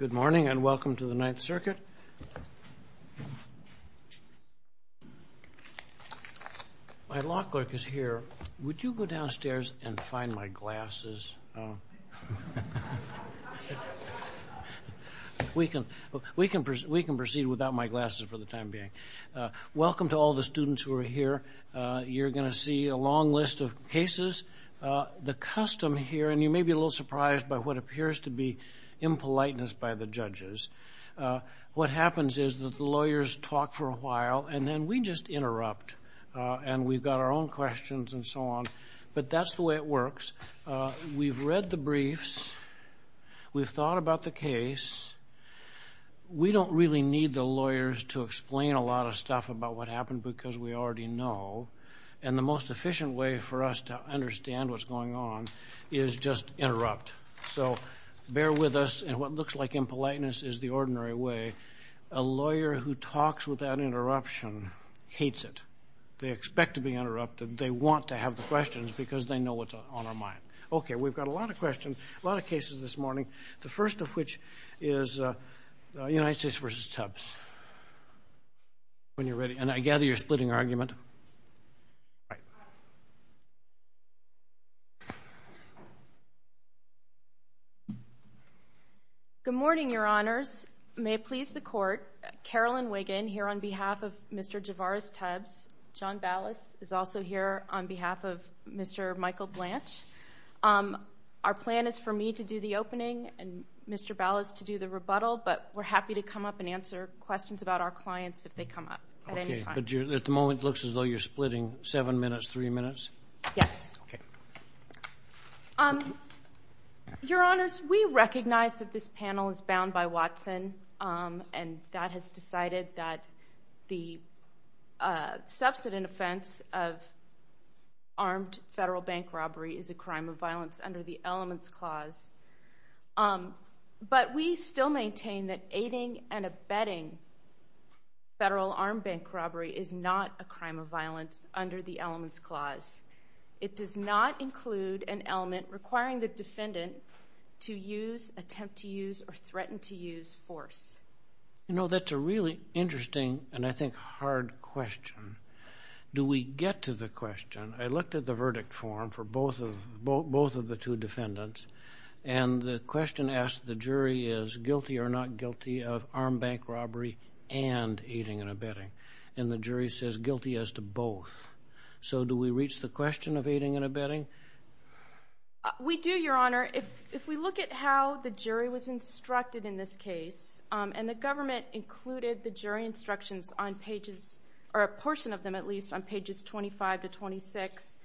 Good morning and welcome to the Ninth Circuit. My law clerk is here. Would you go downstairs and find my glasses? We can proceed without my glasses for the time being. Welcome to all the students who are here. You're going to see a long list of cases. The custom here, and you may be a little surprised by what appears to be impoliteness by the judges, what happens is that the lawyers talk for a while and then we just interrupt and we've got our own questions and so on. But that's the way it works. We've read the briefs. We've thought about the case. We don't really need the lawyers to explain a lot of stuff about what happened because we already know. And the most efficient way for us to understand what's going on is just interrupt. So bear with us. And what looks like impoliteness is the ordinary way. A lawyer who talks without interruption hates it. They expect to be interrupted. They want to have the questions because they know what's on their mind. Okay, we've got a lot of questions, a lot of cases this morning, the first of which is United States v. Tubbs. When you're ready. And I gather you're splitting argument. All right. Good morning, Your Honors. May it please the Court, Carolyn Wiggin here on behalf of Mr. Javaris Tubbs. John Ballas is also here on behalf of Mr. Michael Blanche. Our plan is for me to do the opening and Mr. Ballas to do the rebuttal, but we're happy to come up and answer questions about our clients if they come up at any time. Okay, but at the moment it looks as though you're splitting seven minutes, three minutes? Yes. Okay. Your Honors, we recognize that this panel is bound by Watson, and that has decided that the substantive offense of armed federal bank robbery is a crime of violence under the Elements Clause. But we still maintain that aiding and abetting federal armed bank robbery is not a crime of violence under the Elements Clause. It does not include an element requiring the defendant to use, attempt to use, or threaten to use force. You know, that's a really interesting and, I think, hard question. Do we get to the question? I looked at the verdict form for both of the two defendants, and the question asked the jury is guilty or not guilty of armed bank robbery and aiding and abetting. And the jury says guilty as to both. So do we reach the question of aiding and abetting? We do, Your Honor. If we look at how the jury was instructed in this case, and the government included the jury instructions on pages, or a portion of them at least, on pages 25 to 26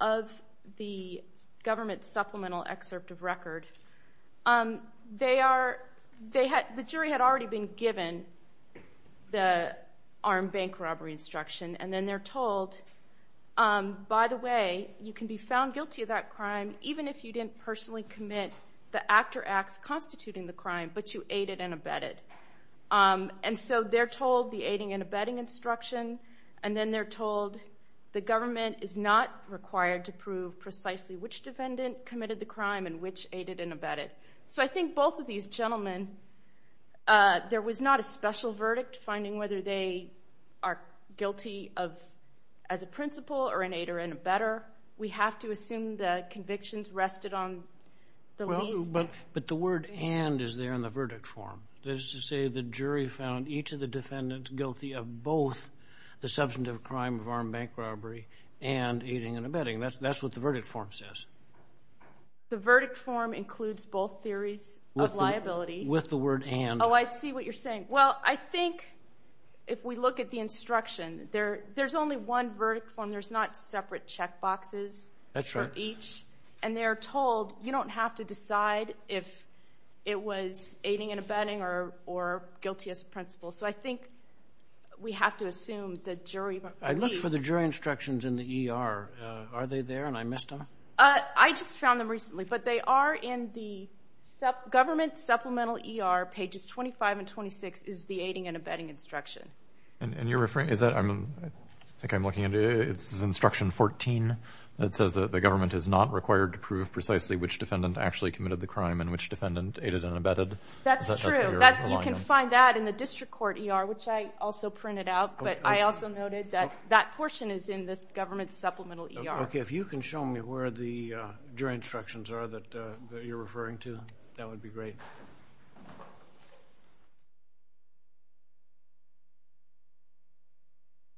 of the government supplemental excerpt of record, the jury had already been given the armed bank robbery instruction, and then they're told, by the way, you can be found guilty of that crime even if you didn't personally commit the act or acts constituting the crime, but you aided and abetted. And so they're told the aiding and abetting instruction, and then they're told the government is not required to prove precisely which defendant committed the crime and which aided and abetted. So I think both of these gentlemen, there was not a special verdict finding whether they are guilty as a principal or an aider and abetter. We have to assume the convictions rested on the lease. But the word and is there in the verdict form. That is to say the jury found each of the defendants guilty of both the substantive crime of armed bank robbery and aiding and abetting. That's what the verdict form says. The verdict form includes both theories of liability. With the word and. Oh, I see what you're saying. Well, I think if we look at the instruction, there's only one verdict form. There's not separate check boxes for each. That's right. And they're told you don't have to decide if it was aiding and abetting or guilty as a principal. So I think we have to assume the jury. I looked for the jury instructions in the ER. Are they there and I missed them? I just found them recently. But they are in the government supplemental ER pages 25 and 26 is the aiding and abetting instruction. And you're referring to that? I think I'm looking at it. It's instruction 14. It says that the government is not required to prove precisely which defendant actually committed the crime and which defendant aided and abetted. That's true. You can find that in the district court ER, which I also printed out. But I also noted that that portion is in this government supplemental ER. Okay. If you can show me where the jury instructions are that you're referring to, that would be great.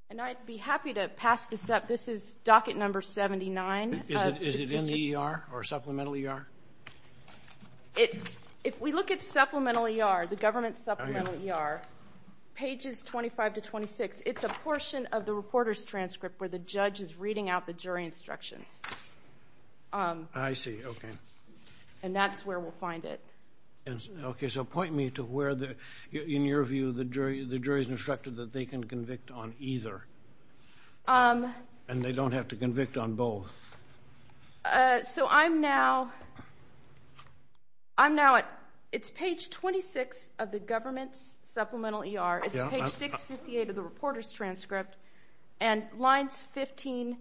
And I'd be happy to pass this up. This is docket number 79. Is it in the ER or supplemental ER? If we look at supplemental ER, the government supplemental ER, pages 25 to 26, it's a portion of the reporter's transcript where the judge is reading out the jury instructions. I see. Okay. And that's where we'll find it. Okay. So point me to where, in your view, the jury's instructed that they can convict on either. And they don't have to convict on both. So I'm now at page 26 of the government's supplemental ER. It's page 658 of the reporter's transcript. And lines 15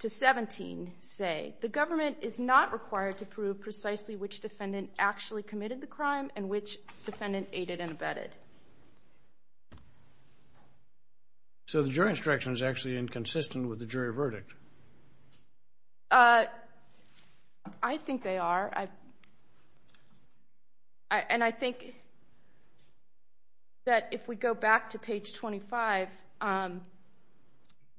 to 17 say, the government is not required to prove precisely which defendant actually committed the crime and which defendant aided and abetted. So the jury instruction is actually inconsistent with the jury verdict. I think they are. And I think that if we go back to page 25,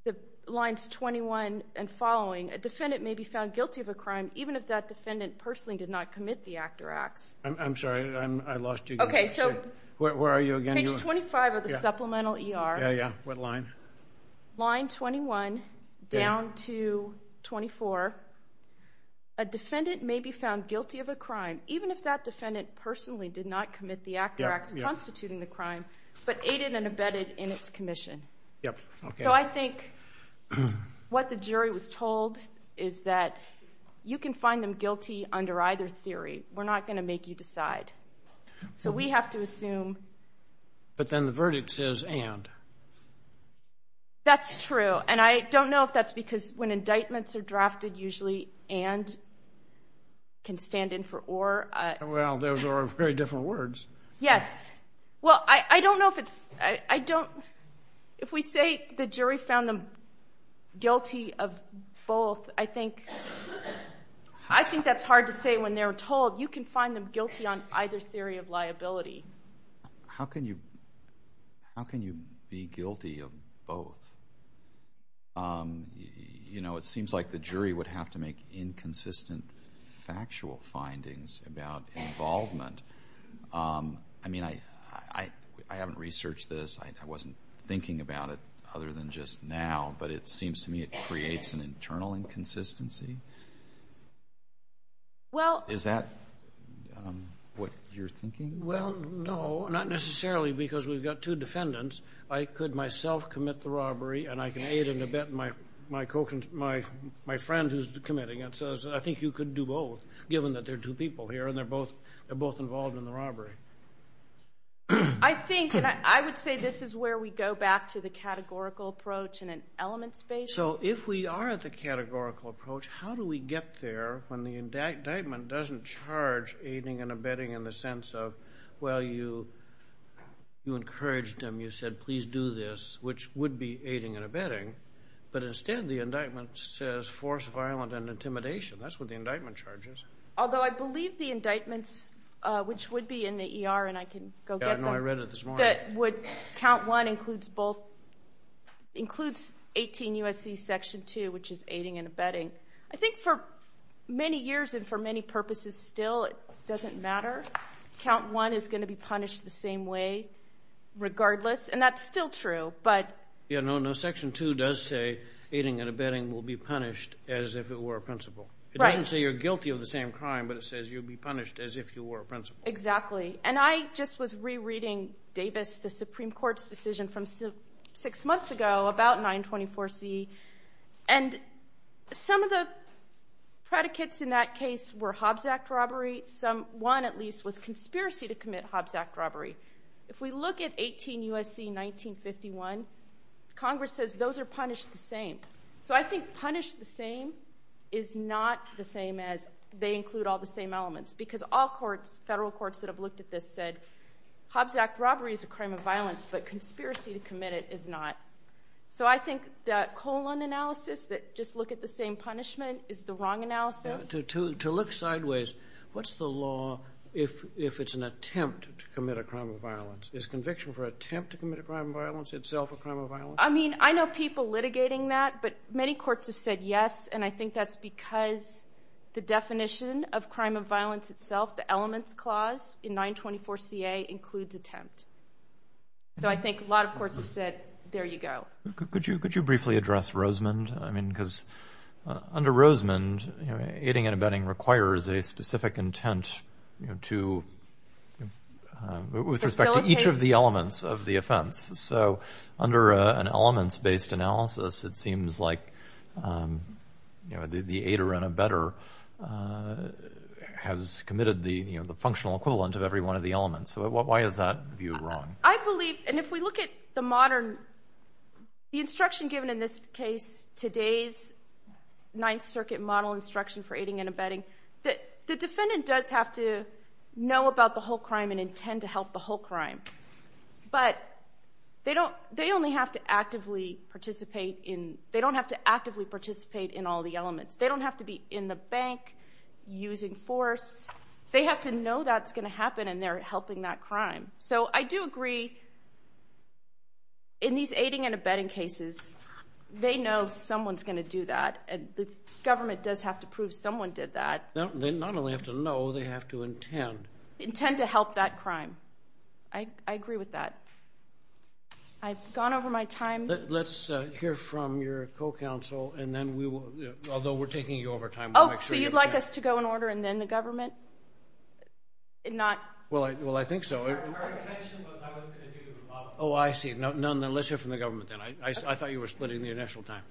the lines 21 and following, a defendant may be found guilty of a crime, even if that defendant personally did not commit the act or acts. I'm sorry. I lost you. Okay. So where are you again? Page 25 of the supplemental ER. Yeah, yeah. What line? Line 21 down to 24. A defendant may be found guilty of a crime, even if that defendant personally did not commit the act or acts constituting the crime, but aided and abetted in its commission. Yep. Okay. So I think what the jury was told is that you can find them guilty under either theory. We're not going to make you decide. So we have to assume. But then the verdict says and. That's true. And I don't know if that's because when indictments are drafted, usually and can stand in for or. Well, those are very different words. Yes. Well, I don't know if it's – I don't – if we say the jury found them guilty of both, I think that's hard to say when they're told. You can find them guilty on either theory of liability. How can you be guilty of both? You know, it seems like the jury would have to make inconsistent factual findings about involvement. I mean, I haven't researched this. I wasn't thinking about it other than just now. But it seems to me it creates an internal inconsistency. Well. Is that what you're thinking? Well, no, not necessarily because we've got two defendants. I could myself commit the robbery, and I can aid and abet my friend who's committing it. So I think you could do both given that there are two people here, and they're both involved in the robbery. I think, and I would say this is where we go back to the categorical approach in an element space. So if we are at the categorical approach, how do we get there when the indictment doesn't charge aiding and abetting in the sense of, well, you encouraged them, you said, please do this, which would be aiding and abetting, but instead the indictment says force, violence, and intimidation. That's what the indictment charges. Although I believe the indictments, which would be in the ER, and I can go get them. Yeah, no, I read it this morning. Count 1 includes 18 U.S.C. Section 2, which is aiding and abetting. I think for many years and for many purposes still it doesn't matter. Count 1 is going to be punished the same way regardless, and that's still true. Yeah, no, Section 2 does say aiding and abetting will be punished as if it were a principle. It doesn't say you're guilty of the same crime, but it says you'll be punished as if you were a principle. Exactly, and I just was rereading Davis, the Supreme Court's decision from six months ago about 924C, and some of the predicates in that case were Hobbs Act robberies. One, at least, was conspiracy to commit Hobbs Act robbery. If we look at 18 U.S.C. 1951, Congress says those are punished the same. So I think punished the same is not the same as they include all the same elements because all courts, federal courts that have looked at this, said Hobbs Act robbery is a crime of violence, but conspiracy to commit it is not. So I think the colon analysis, that just look at the same punishment, is the wrong analysis. To look sideways, what's the law if it's an attempt to commit a crime of violence? Is conviction for attempt to commit a crime of violence itself a crime of violence? I mean, I know people litigating that, but many courts have said yes, and I think that's because the definition of crime of violence itself, the elements clause in 924Ca, includes attempt. So I think a lot of courts have said, there you go. Could you briefly address Rosemond? I mean, because under Rosemond, aiding and abetting requires a specific intent to, with respect to each of the elements of the offense. So under an elements-based analysis, it seems like the aider and abetter has committed the functional equivalent of every one of the elements. So why is that view wrong? I believe, and if we look at the modern, the instruction given in this case, today's Ninth Circuit model instruction for aiding and abetting, the defendant does have to know about the whole crime and intend to help the whole crime. But they only have to actively participate in, they don't have to actively participate in all the elements. They don't have to be in the bank, using force. They have to know that's going to happen, and they're helping that crime. So I do agree, in these aiding and abetting cases, they know someone's going to do that, and the government does have to prove someone did that. They not only have to know, they have to intend. Intend to help that crime. I agree with that. I've gone over my time. Let's hear from your co-counsel, and then we will, although we're taking you over time. Oh, so you'd like us to go in order and then the government? Well, I think so. Our intention was I wasn't going to do the model. Oh, I see. Let's hear from the government then. I thought you were splitting the initial time.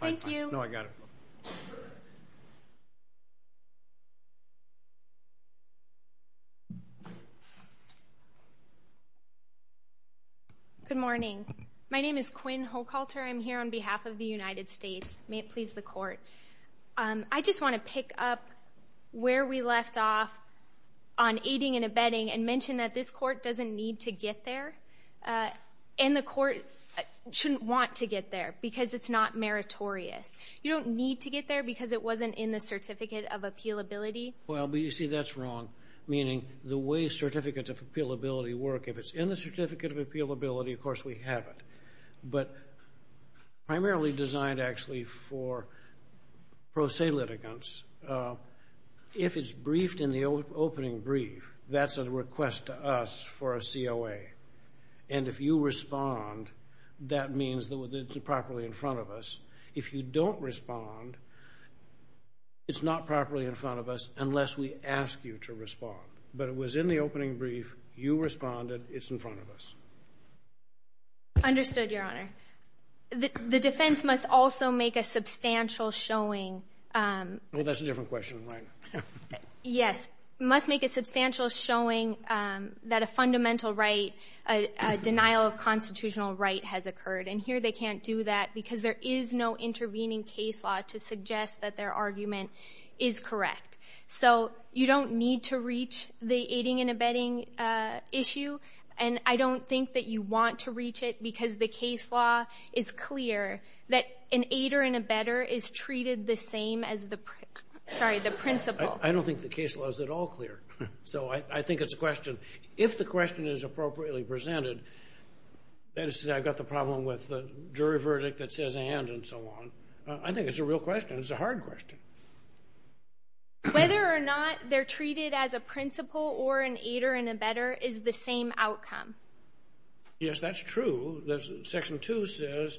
Thank you. No, I got it. Good morning. My name is Quinn Hochhalter. I'm here on behalf of the United States. May it please the Court. I just want to pick up where we left off on aiding and abetting and mention that this Court doesn't need to get there, and the Court shouldn't want to get there because it's not meritorious. You don't need to get there because it wasn't in the Certificate of Appealability. Well, you see, that's wrong, meaning the way Certificates of Appealability work, if it's in the Certificate of Appealability, of course we have it, but primarily designed actually for pro se litigants, if it's briefed in the opening brief, that's a request to us for a COA, and if you respond, that means that it's properly in front of us. If you don't respond, it's not properly in front of us unless we ask you to respond. But it was in the opening brief. You responded. It's in front of us. Understood, Your Honor. The defense must also make a substantial showing. Well, that's a different question, right? Yes. It must make a substantial showing that a fundamental right, a denial of constitutional right has occurred, and here they can't do that because there is no intervening case law to suggest that their argument is correct. So you don't need to reach the aiding and abetting issue, and I don't think that you want to reach it because the case law is clear that an aider and abetter is treated the same as the principal. I don't think the case law is at all clear, so I think it's a question. If the question is appropriately presented, that is to say I've got the problem with the jury verdict that says and and so on, I think it's a real question. It's a hard question. Whether or not they're treated as a principal or an aider and abetter is the same outcome. Yes, that's true. Section 2 says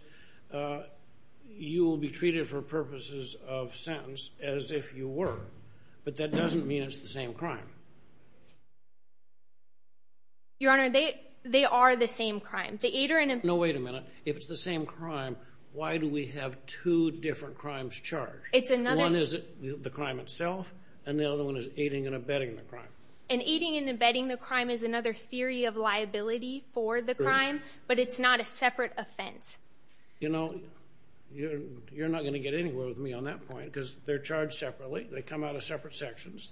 you will be treated for purposes of sentence as if you were, but that doesn't mean it's the same crime. Your Honor, they are the same crime. No, wait a minute. If it's the same crime, why do we have two different crimes charged? One is the crime itself, and the other one is aiding and abetting the crime. And aiding and abetting the crime is another theory of liability for the crime, but it's not a separate offense. You know, you're not going to get anywhere with me on that point because they're charged separately. They come out of separate sections.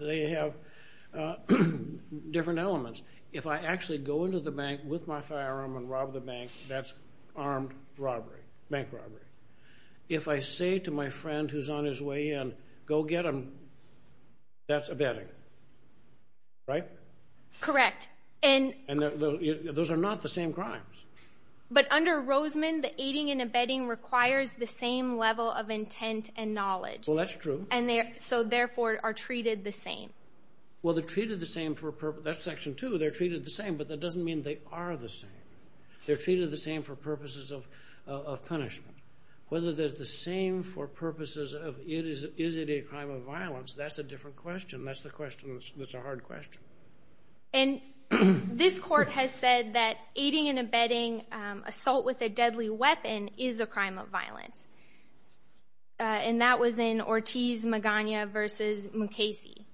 They have different elements. If I actually go into the bank with my firearm and rob the bank, that's armed robbery, bank robbery. If I say to my friend who's on his way in, go get him, that's abetting, right? Correct. And those are not the same crimes. But under Roseman, the aiding and abetting requires the same level of intent and knowledge. Well, that's true. So, therefore, are treated the same. Well, they're treated the same for a purpose. That's Section 2. They're treated the same, but that doesn't mean they are the same. They're treated the same for purposes of punishment. Whether they're the same for purposes of is it a crime of violence, that's a different question. That's the question that's a hard question. And this Court has said that aiding and abetting assault with a deadly weapon is a crime of violence. And that was in Ortiz-Magana v. Mukasey.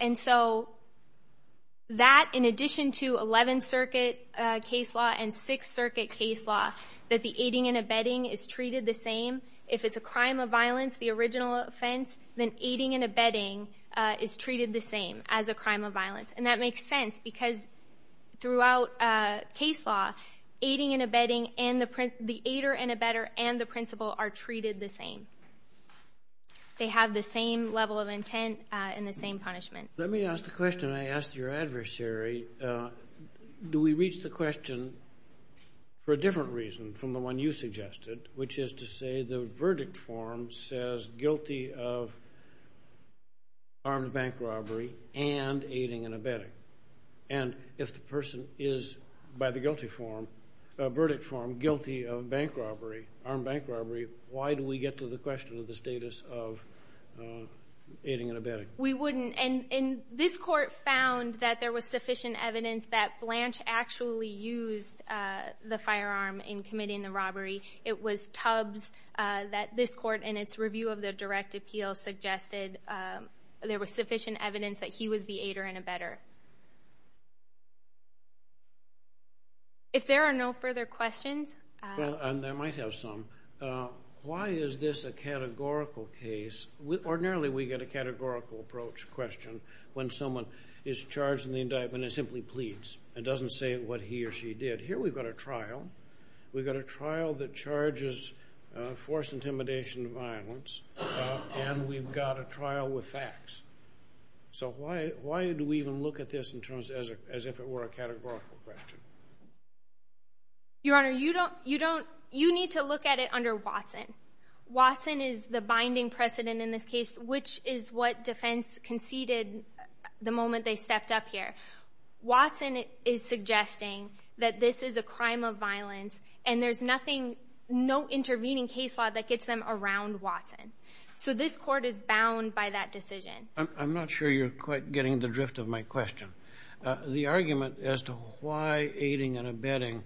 And so that, in addition to Eleventh Circuit case law and Sixth Circuit case law, that the aiding and abetting is treated the same, if it's a crime of violence, the original offense, then aiding and abetting is treated the same as a crime of violence. And that makes sense because throughout case law, aiding and abetting, the aider and abetter and the principal are treated the same. They have the same level of intent and the same punishment. Let me ask the question I asked your adversary. Do we reach the question for a different reason from the one you suggested, which is to say the verdict form says guilty of armed bank robbery and aiding and abetting? And if the person is, by the verdict form, guilty of bank robbery, armed bank robbery, why do we get to the question of the status of aiding and abetting? We wouldn't. And this Court found that there was sufficient evidence that Blanche actually used the firearm in committing the robbery. It was Tubbs that this Court, in its review of the direct appeal, suggested there was sufficient evidence that he was the aider and abetter. If there are no further questions. Well, and there might have some. Why is this a categorical case? Ordinarily we get a categorical approach question when someone is charged in the indictment and simply pleads and doesn't say what he or she did. Here we've got a trial. We've got a trial that charges forced intimidation and violence. And we've got a trial with facts. So why do we even look at this as if it were a categorical question? Your Honor, you need to look at it under Watson. Watson is the binding precedent in this case, which is what defense conceded the moment they stepped up here. Watson is suggesting that this is a crime of violence, and there's nothing, no intervening case law that gets them around Watson. So this Court is bound by that decision. I'm not sure you're quite getting the drift of my question. The argument as to why aiding and abetting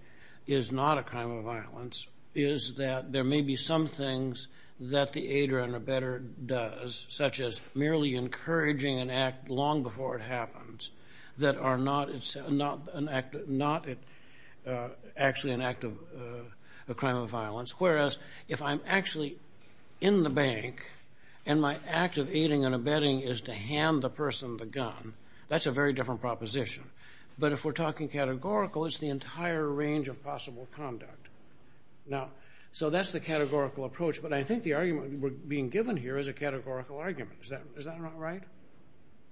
is not a crime of violence is that there may be some things that the aider and abetter does, such as merely encouraging an act long before it happens, that are not actually an act of a crime of violence, whereas if I'm actually in the bank and my act of aiding and abetting is to hand the person the gun, that's a very different proposition. But if we're talking categorical, it's the entire range of possible conduct. So that's the categorical approach, but I think the argument we're being given here is a categorical argument. Is that not right?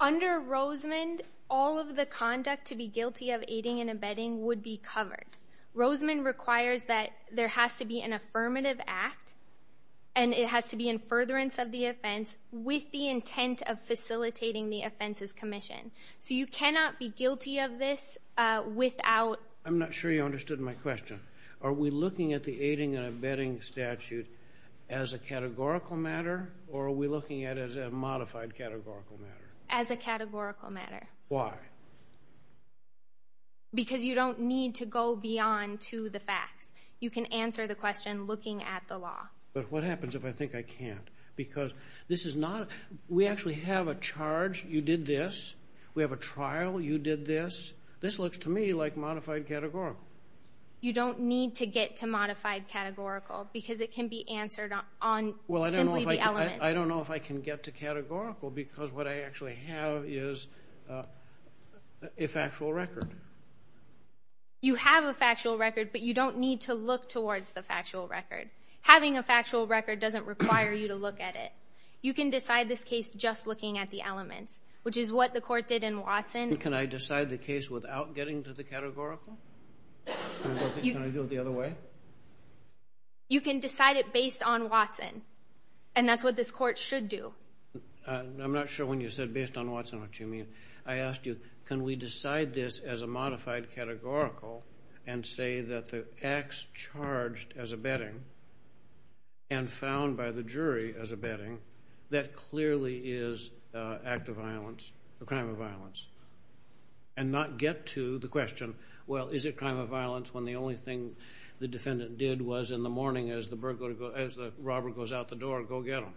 Under Rosamond, all of the conduct to be guilty of aiding and abetting would be covered. Rosamond requires that there has to be an affirmative act, and it has to be in furtherance of the offense with the intent of facilitating the offenses commission. So you cannot be guilty of this without... I'm not sure you understood my question. Are we looking at the aiding and abetting statute as a categorical matter, or are we looking at it as a modified categorical matter? As a categorical matter. Why? Because you don't need to go beyond to the facts. You can answer the question looking at the law. But what happens if I think I can't? Because this is not a...we actually have a charge. You did this. We have a trial. You did this. This looks to me like modified categorical. You don't need to get to modified categorical because it can be answered on simply the elements. I don't know if I can get to categorical because what I actually have is a factual record. You have a factual record, but you don't need to look towards the factual record. Having a factual record doesn't require you to look at it. You can decide this case just looking at the elements, which is what the court did in Watson. Can I decide the case without getting to the categorical? Can I do it the other way? You can decide it based on Watson, and that's what this court should do. I'm not sure when you said based on Watson what you mean. I asked you, can we decide this as a modified categorical and say that the acts charged as abetting and found by the jury as abetting, that clearly is an act of violence, a crime of violence, and not get to the question, well, is it a crime of violence when the only thing the defendant did was in the morning as the burglar goes, as the robber goes out the door, go get him?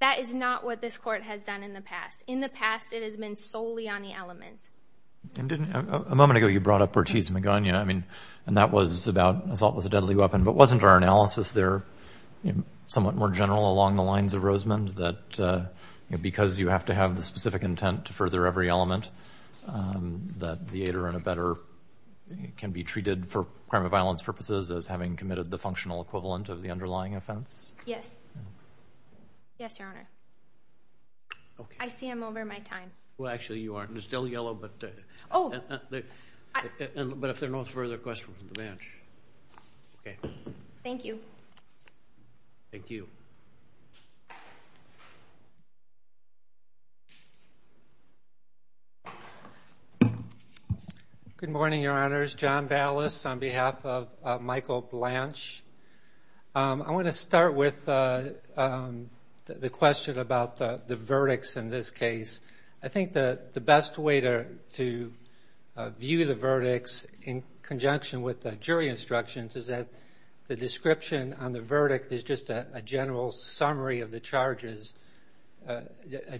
That is not what this court has done in the past. In the past, it has been solely on the elements. A moment ago, you brought up Ortiz-Magana, and that was about assault with a deadly weapon, but wasn't our analysis there somewhat more general along the lines of Rosamond, that because you have to have the specific intent to further every element, that the aider and abetter can be treated for crime of violence purposes as having committed the functional equivalent of the underlying offense? Yes. Yes, Your Honor. I see I'm over my time. Well, actually, you are. It's still yellow, but if there are no further questions from the bench. Okay. Thank you. Thank you. Good morning, Your Honors. John Ballas on behalf of Michael Blanche. I want to start with the question about the verdicts in this case. I think the best way to view the verdicts in conjunction with the jury instructions is that the description on the verdict is just a general summary of the charges, a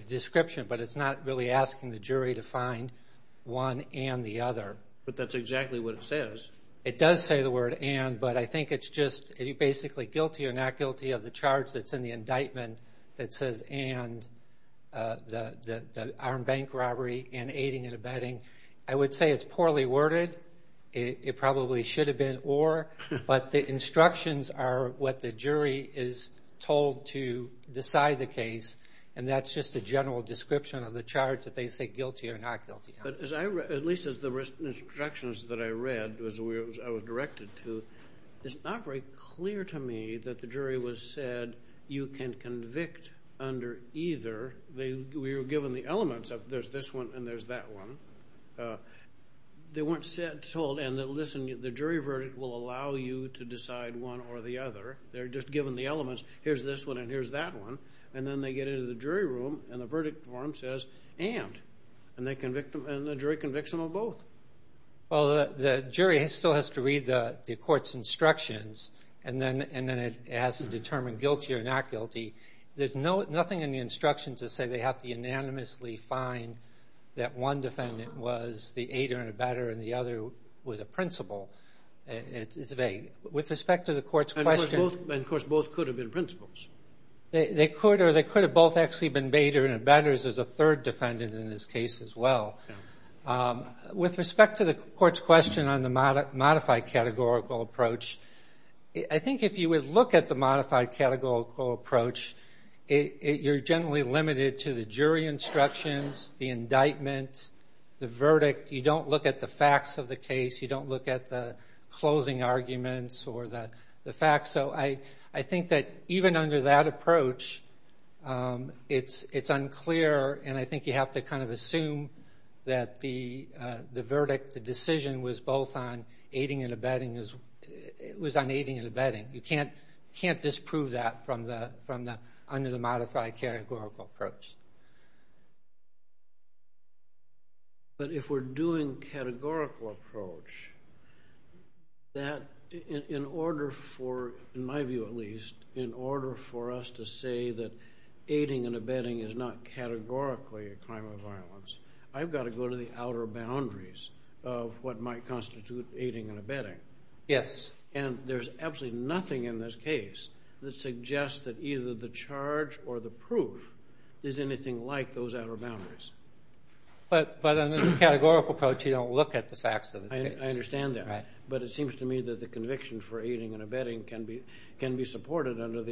description, but it's not really asking the jury to find one and the other. But that's exactly what it says. It does say the word and, but I think it's just are you basically guilty or not guilty of the charge that's in the indictment that says and the armed bank robbery and aiding and abetting. I would say it's poorly worded. It probably should have been or, but the instructions are what the jury is told to decide the case, and that's just a general description of the charge that they say guilty or not guilty. But as I read, at least as the instructions that I read, as I was directed to, it's not very clear to me that the jury was said you can convict under either. We were given the elements of there's this one and there's that one. They weren't told, and listen, the jury verdict will allow you to decide one or the other. They're just given the elements. Here's this one and here's that one, and then they get into the jury room and the verdict form says and, and the jury convicts them of both. Well, the jury still has to read the court's instructions, and then it has to determine guilty or not guilty. There's nothing in the instructions that say they have to unanimously find that one defendant was the aider and abetter and the other was a principal. It's vague. With respect to the court's question. And, of course, both could have been principals. They could, or they could have both actually been aiders and abetters. There's a third defendant in this case as well. With respect to the court's question on the modified categorical approach, I think if you would look at the modified categorical approach, you're generally limited to the jury instructions, the indictment, the verdict. You don't look at the facts of the case. You don't look at the closing arguments or the facts. So I think that even under that approach, it's unclear, and I think you have to kind of assume that the verdict, the decision was both on aiding and abetting. It was on aiding and abetting. You can't disprove that under the modified categorical approach. But if we're doing categorical approach, that in order for, in my view at least, in order for us to say that aiding and abetting is not categorically a crime of violence, I've got to go to the outer boundaries of what might constitute aiding and abetting. Yes. And there's absolutely nothing in this case that suggests that either the charge or the proof is anything like those outer boundaries. But under the categorical approach, you don't look at the facts of the case. I understand that. Right. But it seems to me that the conviction for aiding and abetting can be supported under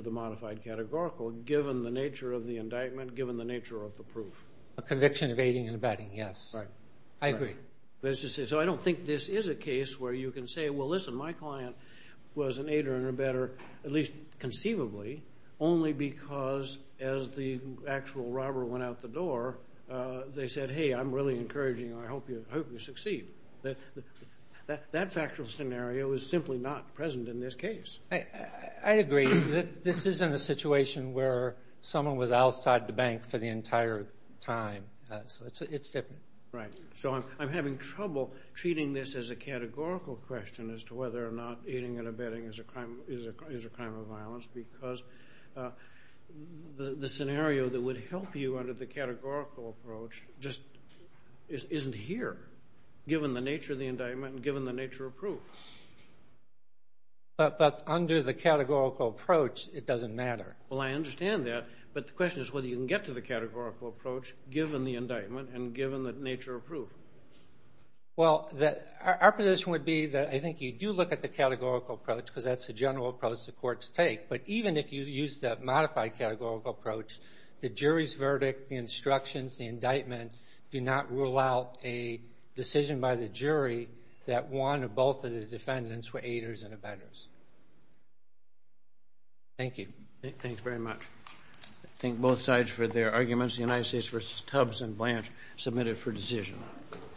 the modified categorical given the nature of the indictment, given the nature of the proof. A conviction of aiding and abetting, yes. Right. I agree. So I don't think this is a case where you can say, well, listen, my client was an aider and abetter, at least conceivably, only because as the actual robber went out the door, they said, hey, I'm really encouraging you. I hope you succeed. That factual scenario is simply not present in this case. I agree. This isn't a situation where someone was outside the bank for the entire time. It's different. Right. So I'm having trouble treating this as a categorical question as to whether or not aiding and abetting is a crime of violence because the scenario that would help you under the categorical approach just isn't here, given the nature of the indictment and given the nature of proof. But under the categorical approach, it doesn't matter. Well, I understand that, but the question is whether you can get to the categorical approach given the indictment and given the nature of proof. Well, our position would be that I think you do look at the categorical approach because that's the general approach the courts take. But even if you use the modified categorical approach, the jury's verdict, the instructions, the indictment do not rule out a decision by the jury that one or both of the defendants were aiders and abettors. Thank you. Thanks very much. I thank both sides for their arguments. The United States v. Tubbs and Blanche submitted for decision.